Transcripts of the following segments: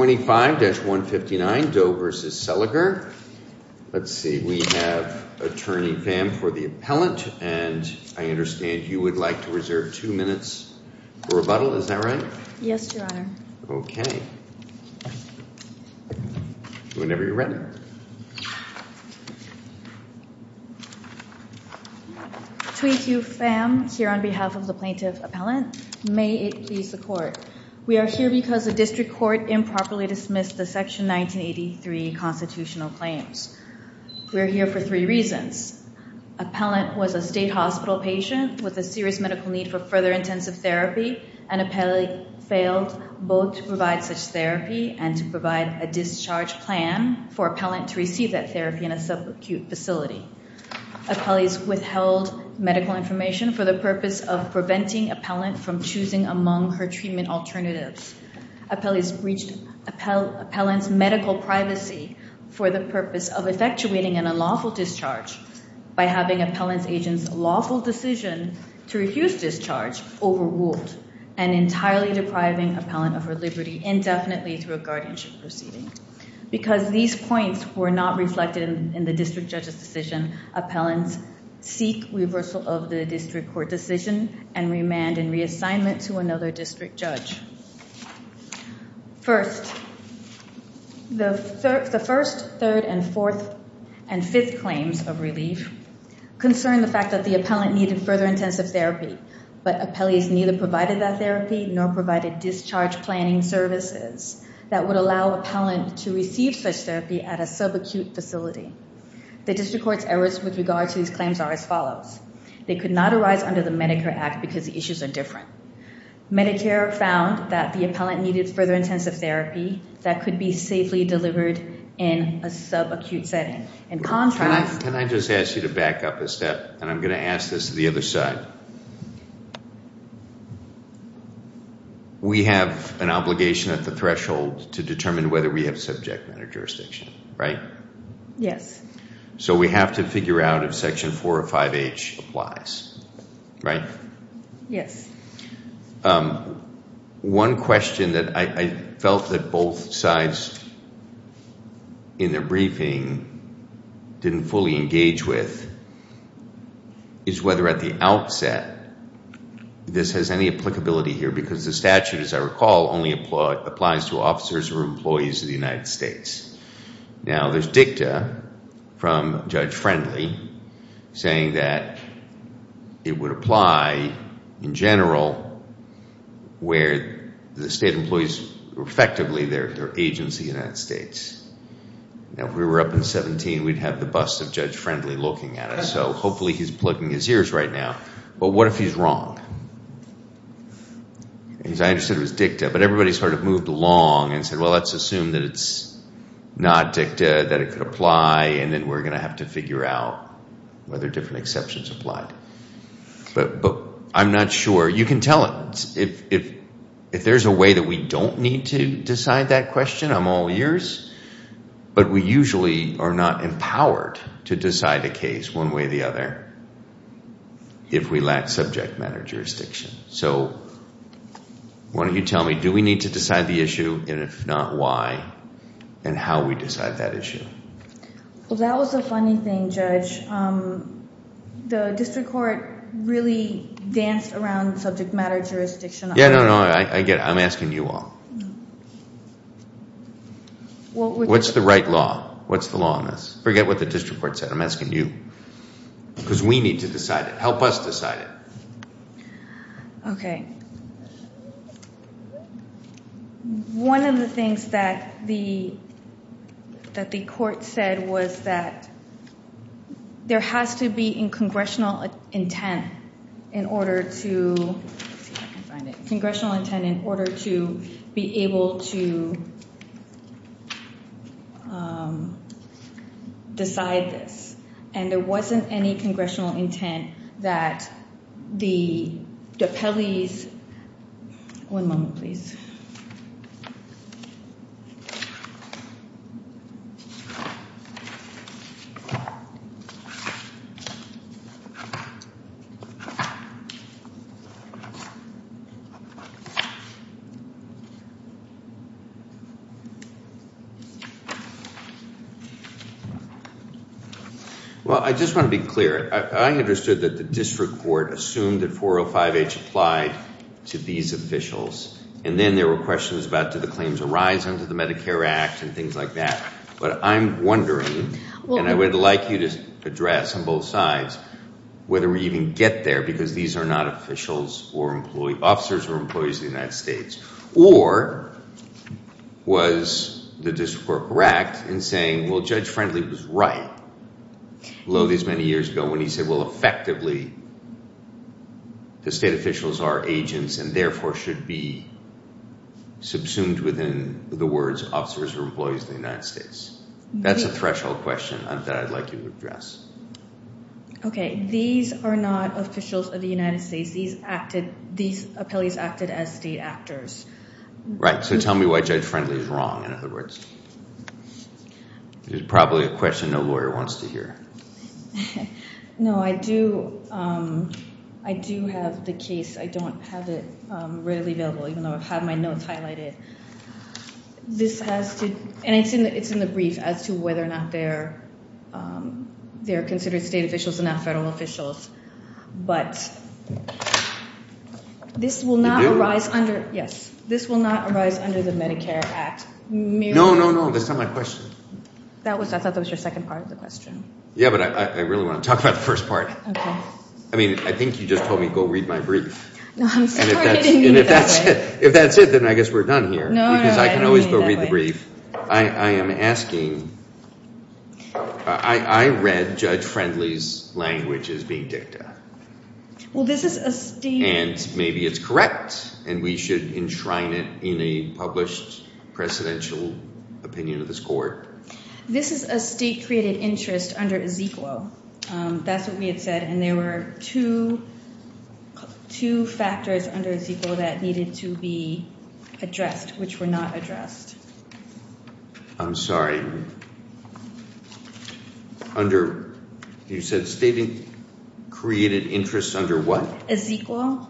25-159, Doe v. Seliger Let's see, we have Attorney Pham for the Appellant and I understand you would like to reserve two minutes for rebuttal, is that right? Yes, Your Honor. Whenever you're ready. Between you, Pham, here on behalf of the Plaintiff Appellant, may it please the Court, we are here because the District Court improperly dismissed the Section 1983 constitutional claims. We are here for three reasons. Appellant was a state hospital patient with a serious medical need for further intensive therapy and Appellee failed both to provide such therapy and to provide a discharge plan for Appellant to receive that therapy in a sub-acute facility. Appellee's withheld medical information for the purpose of preventing Appellant from choosing among her treatment alternatives. Appellee's breached Appellant's medical privacy for the purpose of effectuating an unlawful discharge by having Appellant's agent's lawful decision to refuse discharge overruled and entirely depriving Appellant of her liberty indefinitely through a guardianship proceeding. Because these points were not reflected in the District Judge's decision, Appellant's seek reversal of the District Court decision and remand and reassignment to another District Judge. First, the first, third, and fourth, and fifth claims of relief concern the fact that the Appellant needed further intensive therapy but Appellee's neither provided that therapy nor provided discharge planning services that would allow Appellant to receive such therapy at a sub-acute facility. The District Court's errors with regard to these claims are as follows. They could not arise under the Medicare Act because the issues are different. Medicare found that the Appellant needed further intensive therapy that could be safely delivered in a sub-acute setting. In contrast... Can I just ask you to back up a step and I'm going to ask this to the other side. We have an obligation at the threshold to determine whether we have subject matter jurisdiction, right? Yes. So we have to figure out if Section 405H applies. Right? Yes. One question that I felt that both sides in their briefing didn't fully engage with is whether at the outset this has any applicability here because the statute, as I recall, only applies to officers or employees of the United States. Now, there's dicta from Judge Friendly saying that it would apply in general where the state employees were effectively their agents of the United States. Now, if we were up in 17, we'd have the bust of Judge Friendly looking at us. So hopefully he's plugging his ears right now. But what if he's wrong? As I understood, it was dicta. But everybody sort of moved along and said, well, let's assume that it's not dicta, that it could apply and then we're going to have to figure out whether different exceptions apply. But I'm not sure. You can tell it. If there's a way that we don't need to decide that question, I'm all ears. But we usually are not empowered to decide a case one way or the other if we lack subject matter jurisdiction. So why don't you tell me, do we need to decide the issue, and if not, why, and how we decide that issue? Well, that was a funny thing, Judge. The district court really danced around subject matter jurisdiction. Yeah, no, no, I get it. I'm asking you all. What's the right law? What's the law on this? Forget what the district court said. I'm asking you. Because we need to decide it. Help us decide it. Okay. One of the things that the court said was that there has to be congressional intent in order to be able to decide this. And there wasn't any congressional intent that the One moment, please. Well, I just want to be clear. I understood that the district court assumed that 405H applied to these officials, and then there were questions about did the claims arise under the Medicaid Act? Medicare Act and things like that. But I'm wondering, and I would like you to address on both sides, whether we even get there because these are not officials or officers or employees of the United States. Or was the district court wracked in saying, well, Judge Friendly was right all these many years ago when he said, well, effectively the state officials are agents and therefore should be subsumed within the words officers or employees of the United States. That's a threshold question that I'd like you to address. Okay. These are not officials of the United States. These appellees acted as state actors. Right. So tell me why Judge Friendly is wrong, in other words. There's probably a question no lawyer wants to hear. No, I do have the case. I don't have it readily available, even though I have my notes highlighted. And it's in the brief as to whether or not they're considered state officials and not federal officials. But this will not arise under the Medicare Act. No, no, no. That's not my question. I thought that was your second part of the question. Yeah, but I really want to talk about the first part. I mean, I think you just told me go read my brief. No, I'm sorry. I didn't mean it that way. And if that's it, then I guess we're done here. No, no, no. I didn't mean it that way. Because I can always go read the brief. I am asking I read Judge Friendly's language as being dicta. Well, this is a state. And maybe it's correct and we should enshrine it in a published precedential opinion of this court. This is a state created interest under Ezekiel. That's what we had said. And there were two factors under Ezekiel that needed to be addressed, which were not addressed. I'm sorry. Under you said state created interest under what? Ezekiel.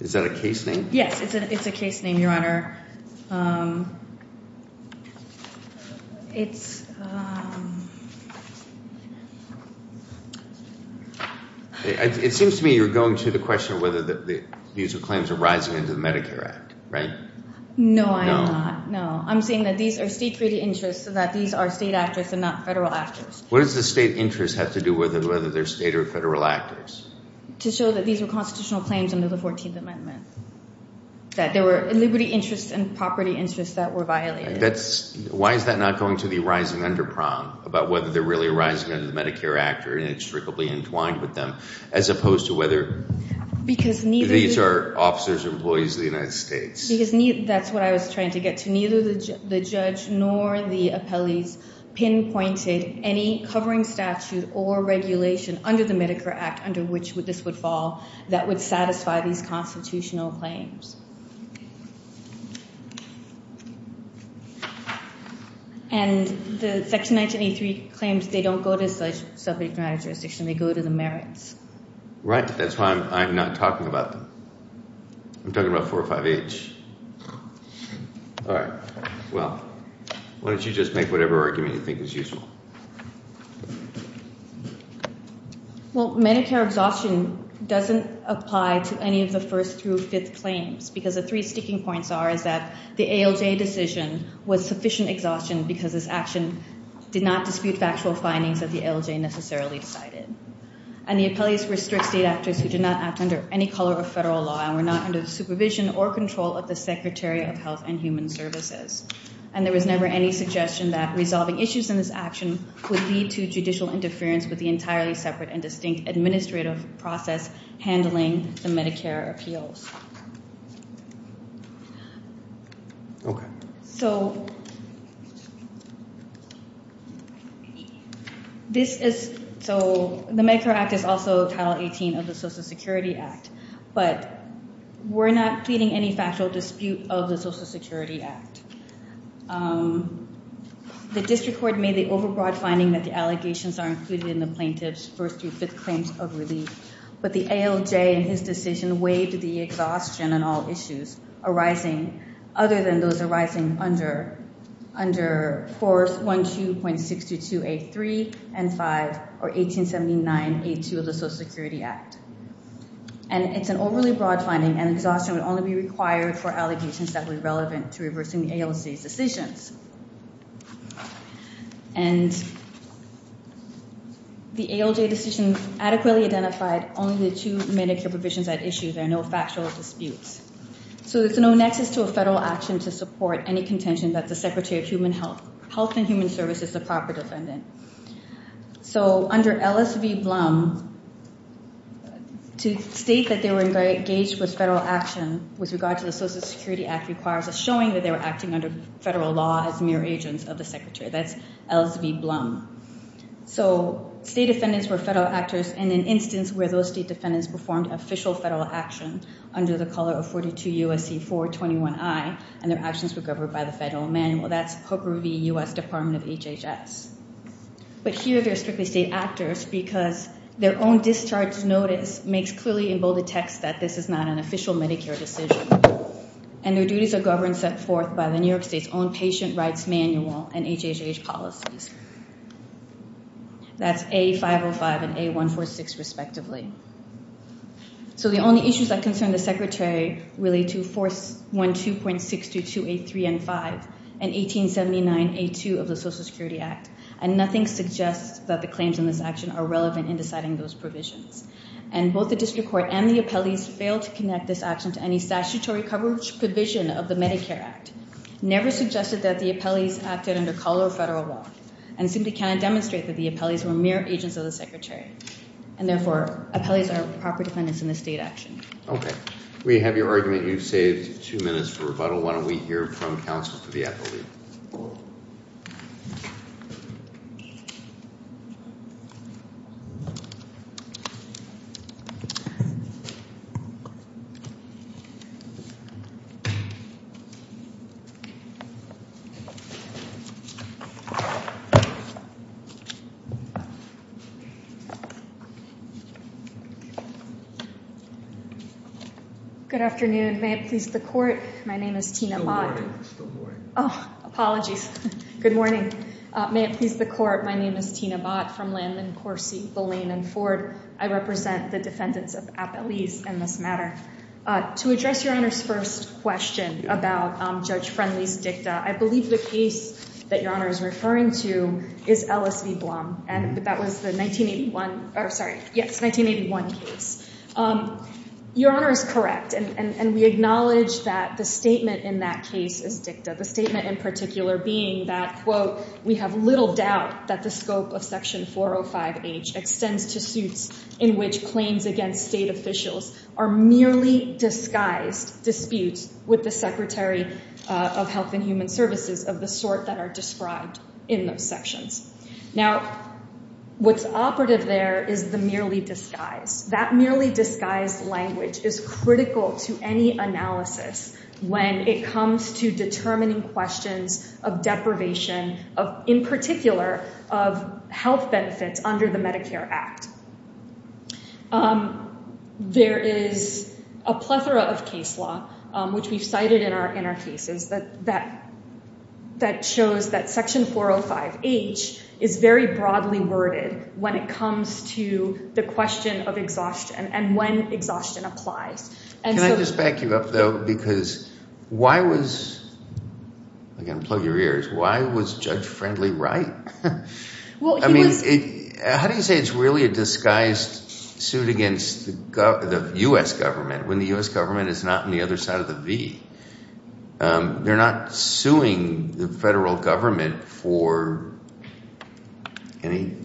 Is that a case name? Yes, it's a case name, Your Honor. It's It seems to me you're going to the question of whether the claims are rising under the Medicare Act, right? No, I am not. No. I'm saying that these are state created interests so that these are state actors and not federal actors. What does the state interest have to do with it, whether they're state or federal actors? To show that these are constitutional claims under the 14th Amendment. That there were liberty interests and property interests that were violated. Why is that not going to the rising of the Medicare Act? Because neither Because neither That's what I was trying to get to. Neither the judge nor the appellees pinpointed any covering statute or regulation under the Medicare Act under which this would fall that would satisfy these constitutional claims. And the section 1983 claims they don't go to subject matter jurisdiction. They go to the merits. Right. That's why I'm not talking about them. I'm talking about 405H. All right. Well, why don't you just make whatever argument you think is useful? Well, Medicare exhaustion doesn't apply to any of the first through fifth claims. Because the three sticking points are that the ALJ decision was sufficient exhaustion because this action did not dispute factual findings that the ALJ necessarily decided. And the appellees were strict state actors who did not act under any color of federal law and were not under the supervision or control of the Secretary of Health and Human Services. And there was never any suggestion that resolving issues in this action would lead to judicial interference with the entirely separate and distinct administrative process handling the Medicare appeals. Okay. So this is, so the Medicare Act is also Title 18 of the Social Security Act. But we're not pleading any factual dispute of the Social Security Act. The district court made the overbroad finding that the allegations are included in the plaintiff's first through fifth claims of relief. But the ALJ in his decision waived the exhaustion on all issues arising other than those arising under 412.6283 and 5 or 1879A2 of the Social Security Act. And it's an overly broad finding and exhaustion would only be required for allegations that were relevant to reversing the ALJ's decisions. And the ALJ decision adequately identified only the two Medicare provisions at issue. There are no factual disputes. So there's no nexus to a federal action to support any contention that the Secretary of Health and Human Services is the proper defendant. So under LSV Blum, to state that they were engaged with federal action with regard to the Social Security Act requires a showing that they were acting under federal law as mere agents of the Secretary. That's LSV Blum. So state defendants were federal actors in an instance where those state defendants performed official federal action under the color of 42 U.S.C. 421I and their actions were governed by the federal manual. That's Hooper v. U.S. Department of HHS. But here they're strictly state actors because their own discharge notice makes clearly in bolded text that this is not an official Medicare decision. And their duties are governed and set forth by the federal manual and HHH policies. That's A505 and A146 respectively. So the only issues that concern the Secretary relate to 412.6283N5 and 1879A2 of the Social Security Act. And nothing suggests that the claims in this action are relevant in deciding those provisions. And both the district court and the appellees failed to connect this action to any statutory coverage provision of the Medicare Act. Never suggested that the appellees acted under color of federal law. And simply cannot demonstrate that the appellees were mere agents of the Secretary. And therefore, appellees are proper defendants in this state action. We have your argument. You've saved two minutes for rebuttal. Why don't we hear from counsel for the appellee. Good afternoon. May it please the court. My name is Tina Bott. Apologies. Good morning. May it please the court. My name is Tina Bott from Landman, Corsi, Boleyn, and Ford. I represent the defendants of appellees in this matter. To address your Honor's first question about Judge Rafferty's and Judge Friendly's dicta, I believe the case that your Honor is referring to is LSV Blum. And that was the 1981 case. Your Honor is correct. And we acknowledge that the statement in that case is dicta. The statement in particular being that, quote, we have little doubt that the scope of section 405H extends to suits in which claims against state officials are merely disguised disputes with the Secretary of Health and Human Services of the sort that are described in those sections. Now, what's operative there is the merely disguised. That merely disguised language is critical to any analysis when it comes to determining questions of deprivation of, in particular, of health benefits under the Medicare Act. There is a plethora of case law, which we've cited in our cases, that shows that section 405H is very broadly worded when it comes to the question of exhaustion and when exhaustion applies. Can I just back you up, though, because why was, I'm going to plug your ears, why was Judge Friendly right? How do you say it's really a disguised suit against the U.S. government when the U.S. government is not on the other side of the V? They're not suing the federal government for any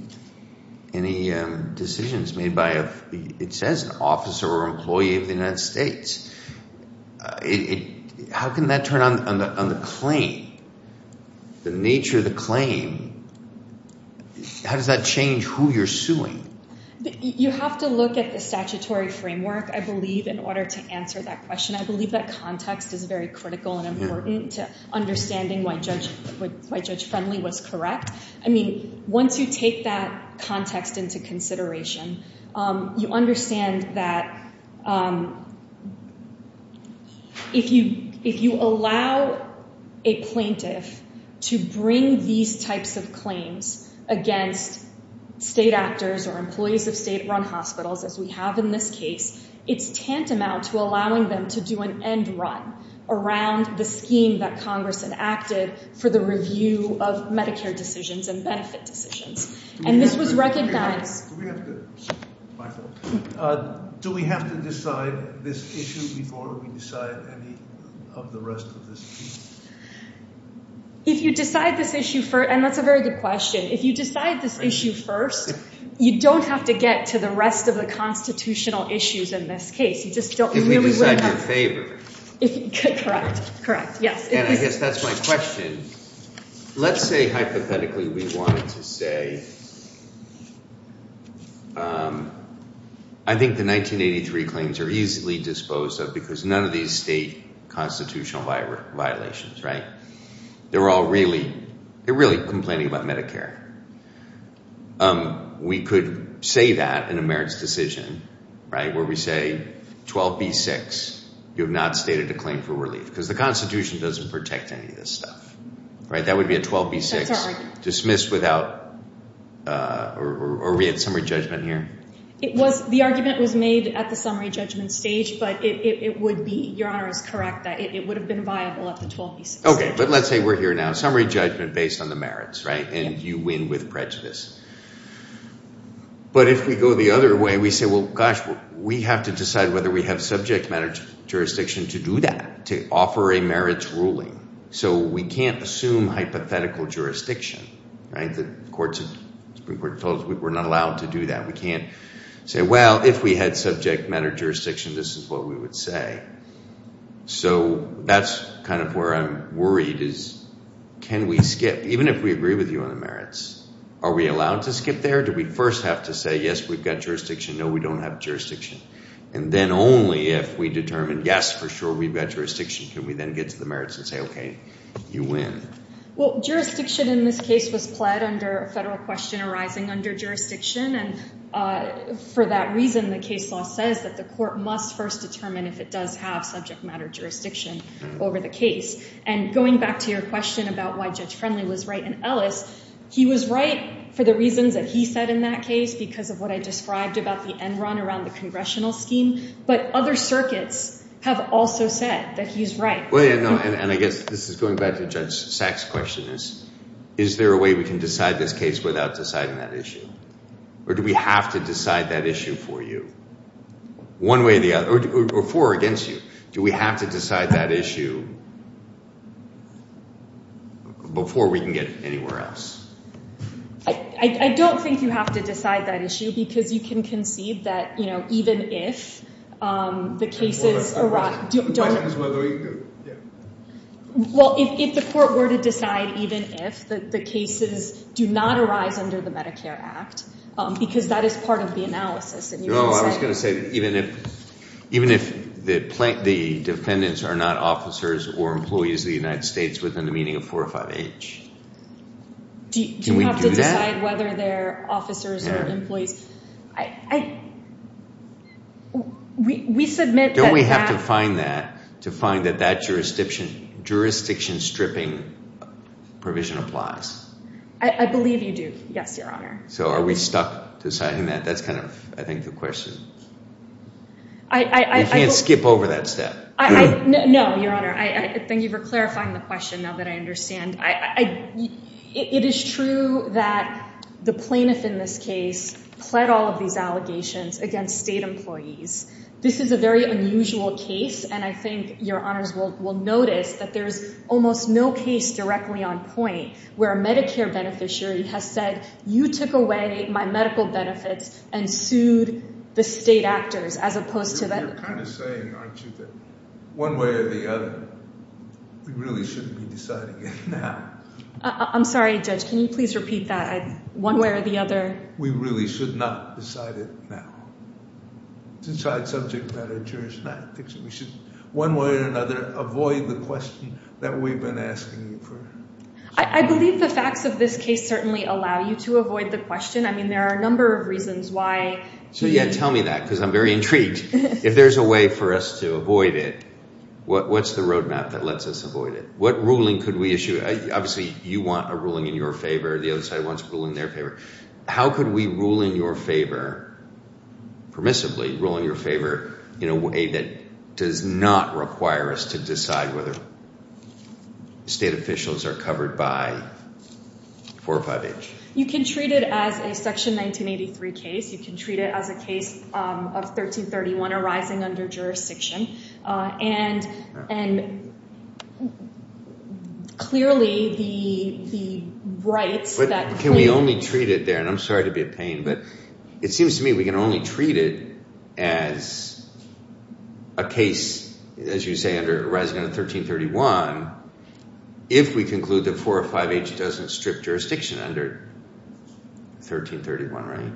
decisions made by, it says, an officer or employee of the United States. How can that turn on the claim? The nature of the claim, how does that change who you're suing? You have to look at the statutory framework, I believe, in order to answer that question. I believe that context is very critical and important to understanding why Judge Friendly was correct. I mean, once you take that context into consideration, you understand that if you allow a plaintiff to bring these types of claims against state actors or employees of state-run hospitals, as we have in this case, it's tantamount to allowing them to do an end run around the scheme that Congress enacted for the review of Medicare decisions and benefit decisions. And this was recognized... Do we have to decide this issue before we decide any of the rest of this? If you decide this issue first, and that's a very good question, if you decide this issue first, you don't have to get to the rest of the constitutional issues in this case. You just don't really... If we decide in your favor. Correct. Correct. Yes. And I guess that's my question. Let's say, hypothetically, we wanted to say... I think the 1983 claims are easily disposed of because none of these state constitutional violations, right? They're all really complaining about Medicare. We could say that in a merits decision, where we say 12b-6, you have not stated a claim for relief, because the Constitution doesn't protect any of this stuff. That would be a 12b-6 dismissed without... Are we at summary judgment here? It was... The argument was made at the summary judgment stage, but it would be... Your Honor is correct that it would have been viable at the 12b-6. Okay. But let's say we're here now. Summary judgment based on the merits, right? And you win with prejudice. But if we go the other way, we say, well, gosh, we have to decide whether we have subject matter jurisdiction to do that, to offer a merits ruling. So we can't assume hypothetical jurisdiction, right? The courts... We're not allowed to do that. We can't say, well, if we had subject matter jurisdiction, this is what we would say. So that's kind of where I'm worried, is can we skip... Even if we agree with you on the merits, are we allowed to skip there? Do we first have to say, yes, we've got jurisdiction, no, we don't have jurisdiction. And then only if we determine, yes, for sure, we've got jurisdiction, can we then get to the merits and say, okay, you win. Well, jurisdiction in this case was pled under a federal question arising under jurisdiction. And for that reason, the case law says that the court must first determine if it does have subject matter jurisdiction over the case. And going back to your question about why Judge Friendly was right in Ellis, he was right for the reasons that he said in that case because of what I described about the Enron around the congressional scheme. But other circuits have also said that he's right. And I guess this is going back to Judge Sack's question is, is there a way we can decide this case without deciding that issue? Or do we have to decide that issue for you? One way or the other? Or for or against you? Do we have to decide that issue before we can get anywhere else? I don't think you have to decide that issue because you can conceive that even if the cases arise... Well, if the court were to decide even if the cases do not arise under the Medicare Act because that is part of the analysis. Oh, I was going to say even if the defendants are not officers or employees of the United States within a meeting of four or five H. Do we have to decide whether they're officers or employees? We submit that Do we have to find that to find that that jurisdiction stripping provision applies? I believe you do. Yes, Your Honor. So are we stuck deciding that? That's kind of, I think, the question. I can't skip over that step. No, Your Honor. Thank you for clarifying the question now that I understand. It is true that the plaintiff in this case pled all of these allegations against state employees. This is a very unusual case, and I think Your Honors will notice that there's almost no case directly on point where a Medicare beneficiary has said, you took away my medical benefits and sued the state actors as opposed to... You're kind of saying, aren't you, that one way or the other we really shouldn't be deciding it now. I'm sorry, Judge. Can you please repeat that? One way or the other? We really should not decide it now. Decide subject matter jurisdiction. I think we should one way or another avoid the question that we've been asking you for. I believe the facts of this case certainly allow you to avoid the question. I mean, there are a number of reasons why... So, yeah, tell me that, because I'm very intrigued. If there's a way for us to avoid it, what's the roadmap that lets us avoid it? What ruling could we issue? Obviously you want a ruling in your favor. The other side wants a ruling in their favor. How could we permissibly rule in your favor in a way that does not require us to decide whether state officials are covered by 45H? You can treat it as a Section 1983 case. You can treat it as a case of 1331 arising under jurisdiction. And clearly the rights that claim... Can we only treat it there? And I'm sorry to be a pain, but it seems to me we can only treat it as a case, as you say, arising under 1331 if we conclude that 45H doesn't strip jurisdiction under 1331, right?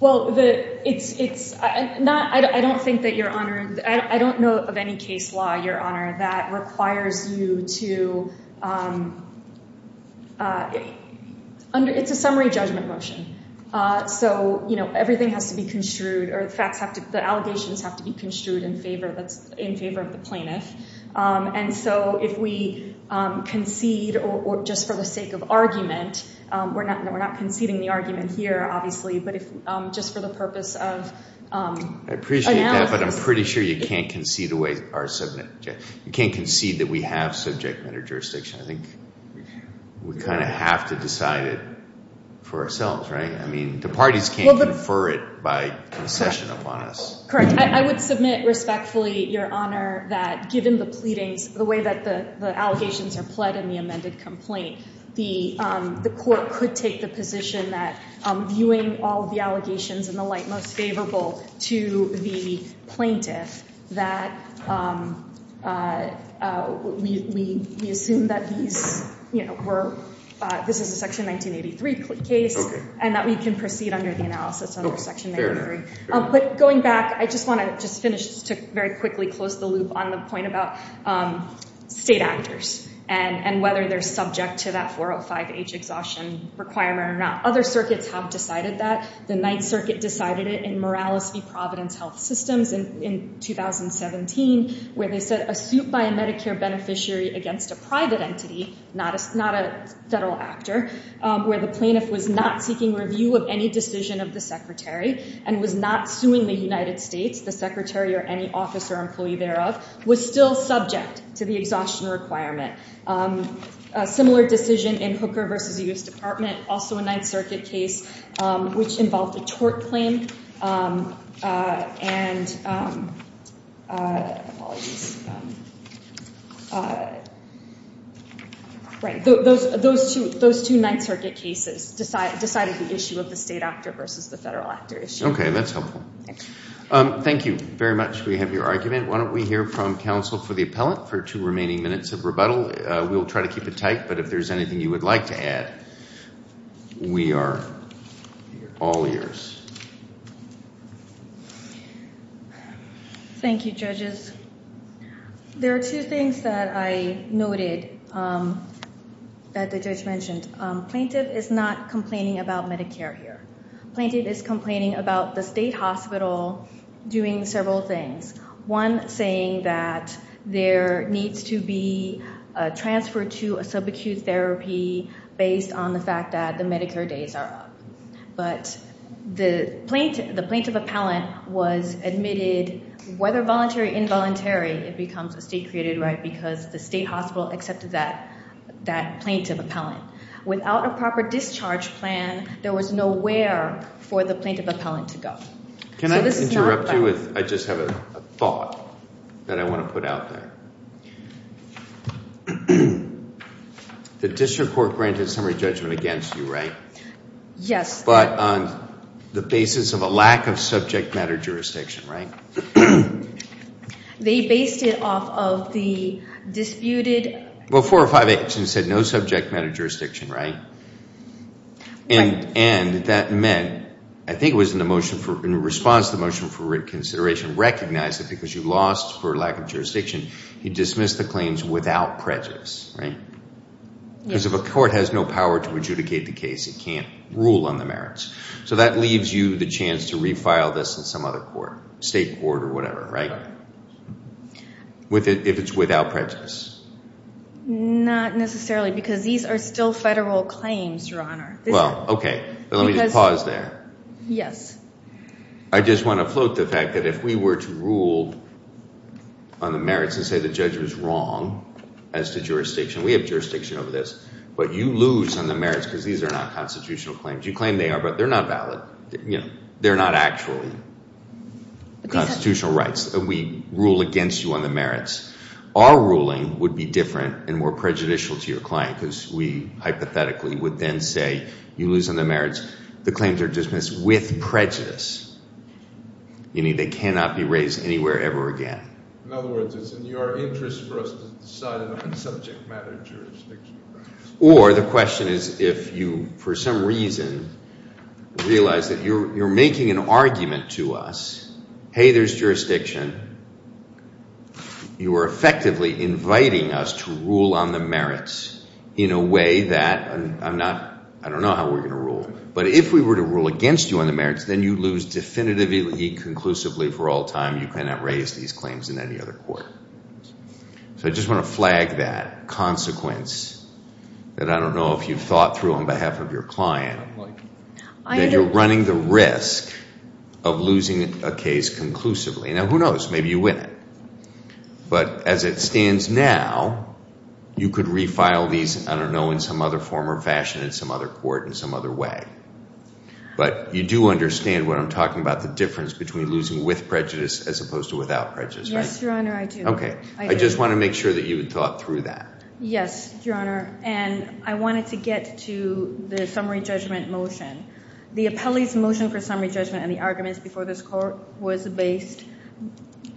Well, it's... I don't think that Your Honor... I don't know of any case law, Your Honor, that requires you to... It's a summary judgment motion. So everything has to be construed, or the allegations have to be construed in favor of the plaintiff. And so if we concede just for the sake of argument, we're not conceding the argument here, obviously, but just for the purpose of... I appreciate that, but I'm pretty sure you can't concede the way our subject... You can't concede that we have subject matter jurisdiction. I think we kind of have to decide it for ourselves, right? I mean, the parties can't confer it by concession upon us. Correct. I would submit respectfully, Your Honor, that given the pleadings, the way that the allegations are pled in the amended complaint, the court could take the position that viewing all of the allegations in the light most favorable to the plaintiff, that we assume that these were... This is a Section 1983 case, and that we can proceed under the analysis under Section 1983. But going back, I just want to finish to very quickly close the loop on the point about state actors and whether they're subject to that 405H exhaustion requirement or not. Other circuits have decided that. The Ninth Circuit decided it in Morales v. Providence Health Systems in 2017, where they said a suit by a Medicare beneficiary against a private entity, not a federal actor, where the plaintiff was not seeking review of any decision of the Secretary and was not suing the United States, the Secretary or any officer or employee thereof, was still subject to the exhaustion requirement. A similar decision in Hooker v. U.S. Department, also a Ninth Circuit case, which involved a tort claim and... Those two Ninth Circuit cases decided the issue of the state actor versus the federal actor issue. Thank you very much. We have your argument. Why don't we hear from counsel for the appellant for two remaining minutes of rebuttal. We'll try to keep it tight, but if there's anything you would like to add, we are all ears. Thank you, judges. There are two things that I noted that the judge mentioned. Plaintiff is not complaining about Medicare here. Plaintiff is complaining about the state hospital doing several things. One, saying that there needs to be a transfer to a sub-acute therapy based on the fact that the Medicare days are up. The plaintiff appellant was admitted, whether voluntary or involuntary, it becomes a state created right because the state hospital accepted that plaintiff appellant. Without a proper discharge plan, there was nowhere for the plaintiff appellant to go. Can I interrupt you? I just have a thought that I want to put out there. The district court granted summary judgment against you, right? Yes. But on the basis of a lack of subject matter jurisdiction, right? They based it off of the disputed Four or five actions said no subject matter jurisdiction, right? And that meant, I think it was in response to the motion for reconsideration, recognize it because you lost for lack of subject matter jurisdiction, right? And that means without prejudice, right? Because if a court has no power to adjudicate the case, it can't rule on the merits. So that leaves you the chance to refile this in some other court. State court or whatever, right? If it's without prejudice. Not necessarily, because these are still federal claims, Your Honor. Well, okay. Let me just pause there. Yes. I just want to float the fact that if we were to rule on the merits and say the judge was wrong as to jurisdiction, we have jurisdiction over this, but you lose on the merits because these are not constitutional claims. You claim they are, but they're not valid. They're not actually constitutional rights. We rule against you on the merits. Our ruling would be different and more prejudicial to your client because we hypothetically would then say you lose on the merits. The claims are dismissed with prejudice, meaning they cannot be raised anywhere ever again. In other words, it's in your interest for us to decide on a subject matter jurisdiction. Or the question is if you, for some reason, realize that you're making an argument to us, hey, there's jurisdiction, you are effectively inviting us to rule on the merits in a way that I don't know how we're going to rule, but if we were to rule against you on the merits, then you lose definitively, conclusively for all time. You cannot raise these claims in any other court. So I just want to flag that consequence that I don't know if you've thought through on behalf of your client that you're running the risk of losing a case conclusively. Now, who knows? Maybe you win it. But as it stands now, you could refile these, I don't know, in some other form or fashion in some other court in some other way. But you do understand what I'm talking about, the difference between losing with prejudice as opposed to without prejudice, right? Yes, Your Honor, I do. I just want to make sure that you had thought through that. Yes, Your Honor. And I wanted to get to the summary judgment motion. The appellee's motion for summary judgment and the arguments before this court was based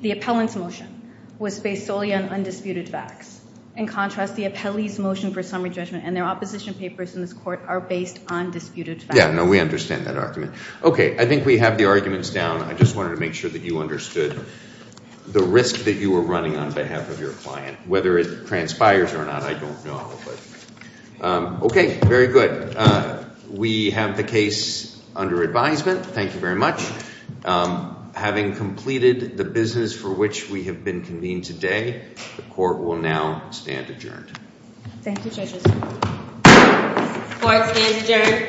the appellant's motion was based solely on undisputed facts. In contrast, the appellee's motion for summary judgment and their opposition papers in this court are based on disputed facts. Yeah, no, we understand that argument. Okay, I think we have the arguments down. I just wanted to make sure that you understood the risk that you were running on behalf of your client. Whether it transpires or not, I don't know. Okay, very good. We have the case under advisement. Thank you very much. Having completed the business for which we have been convened today, the court will now stand adjourned. Thank you, judges. Thank you.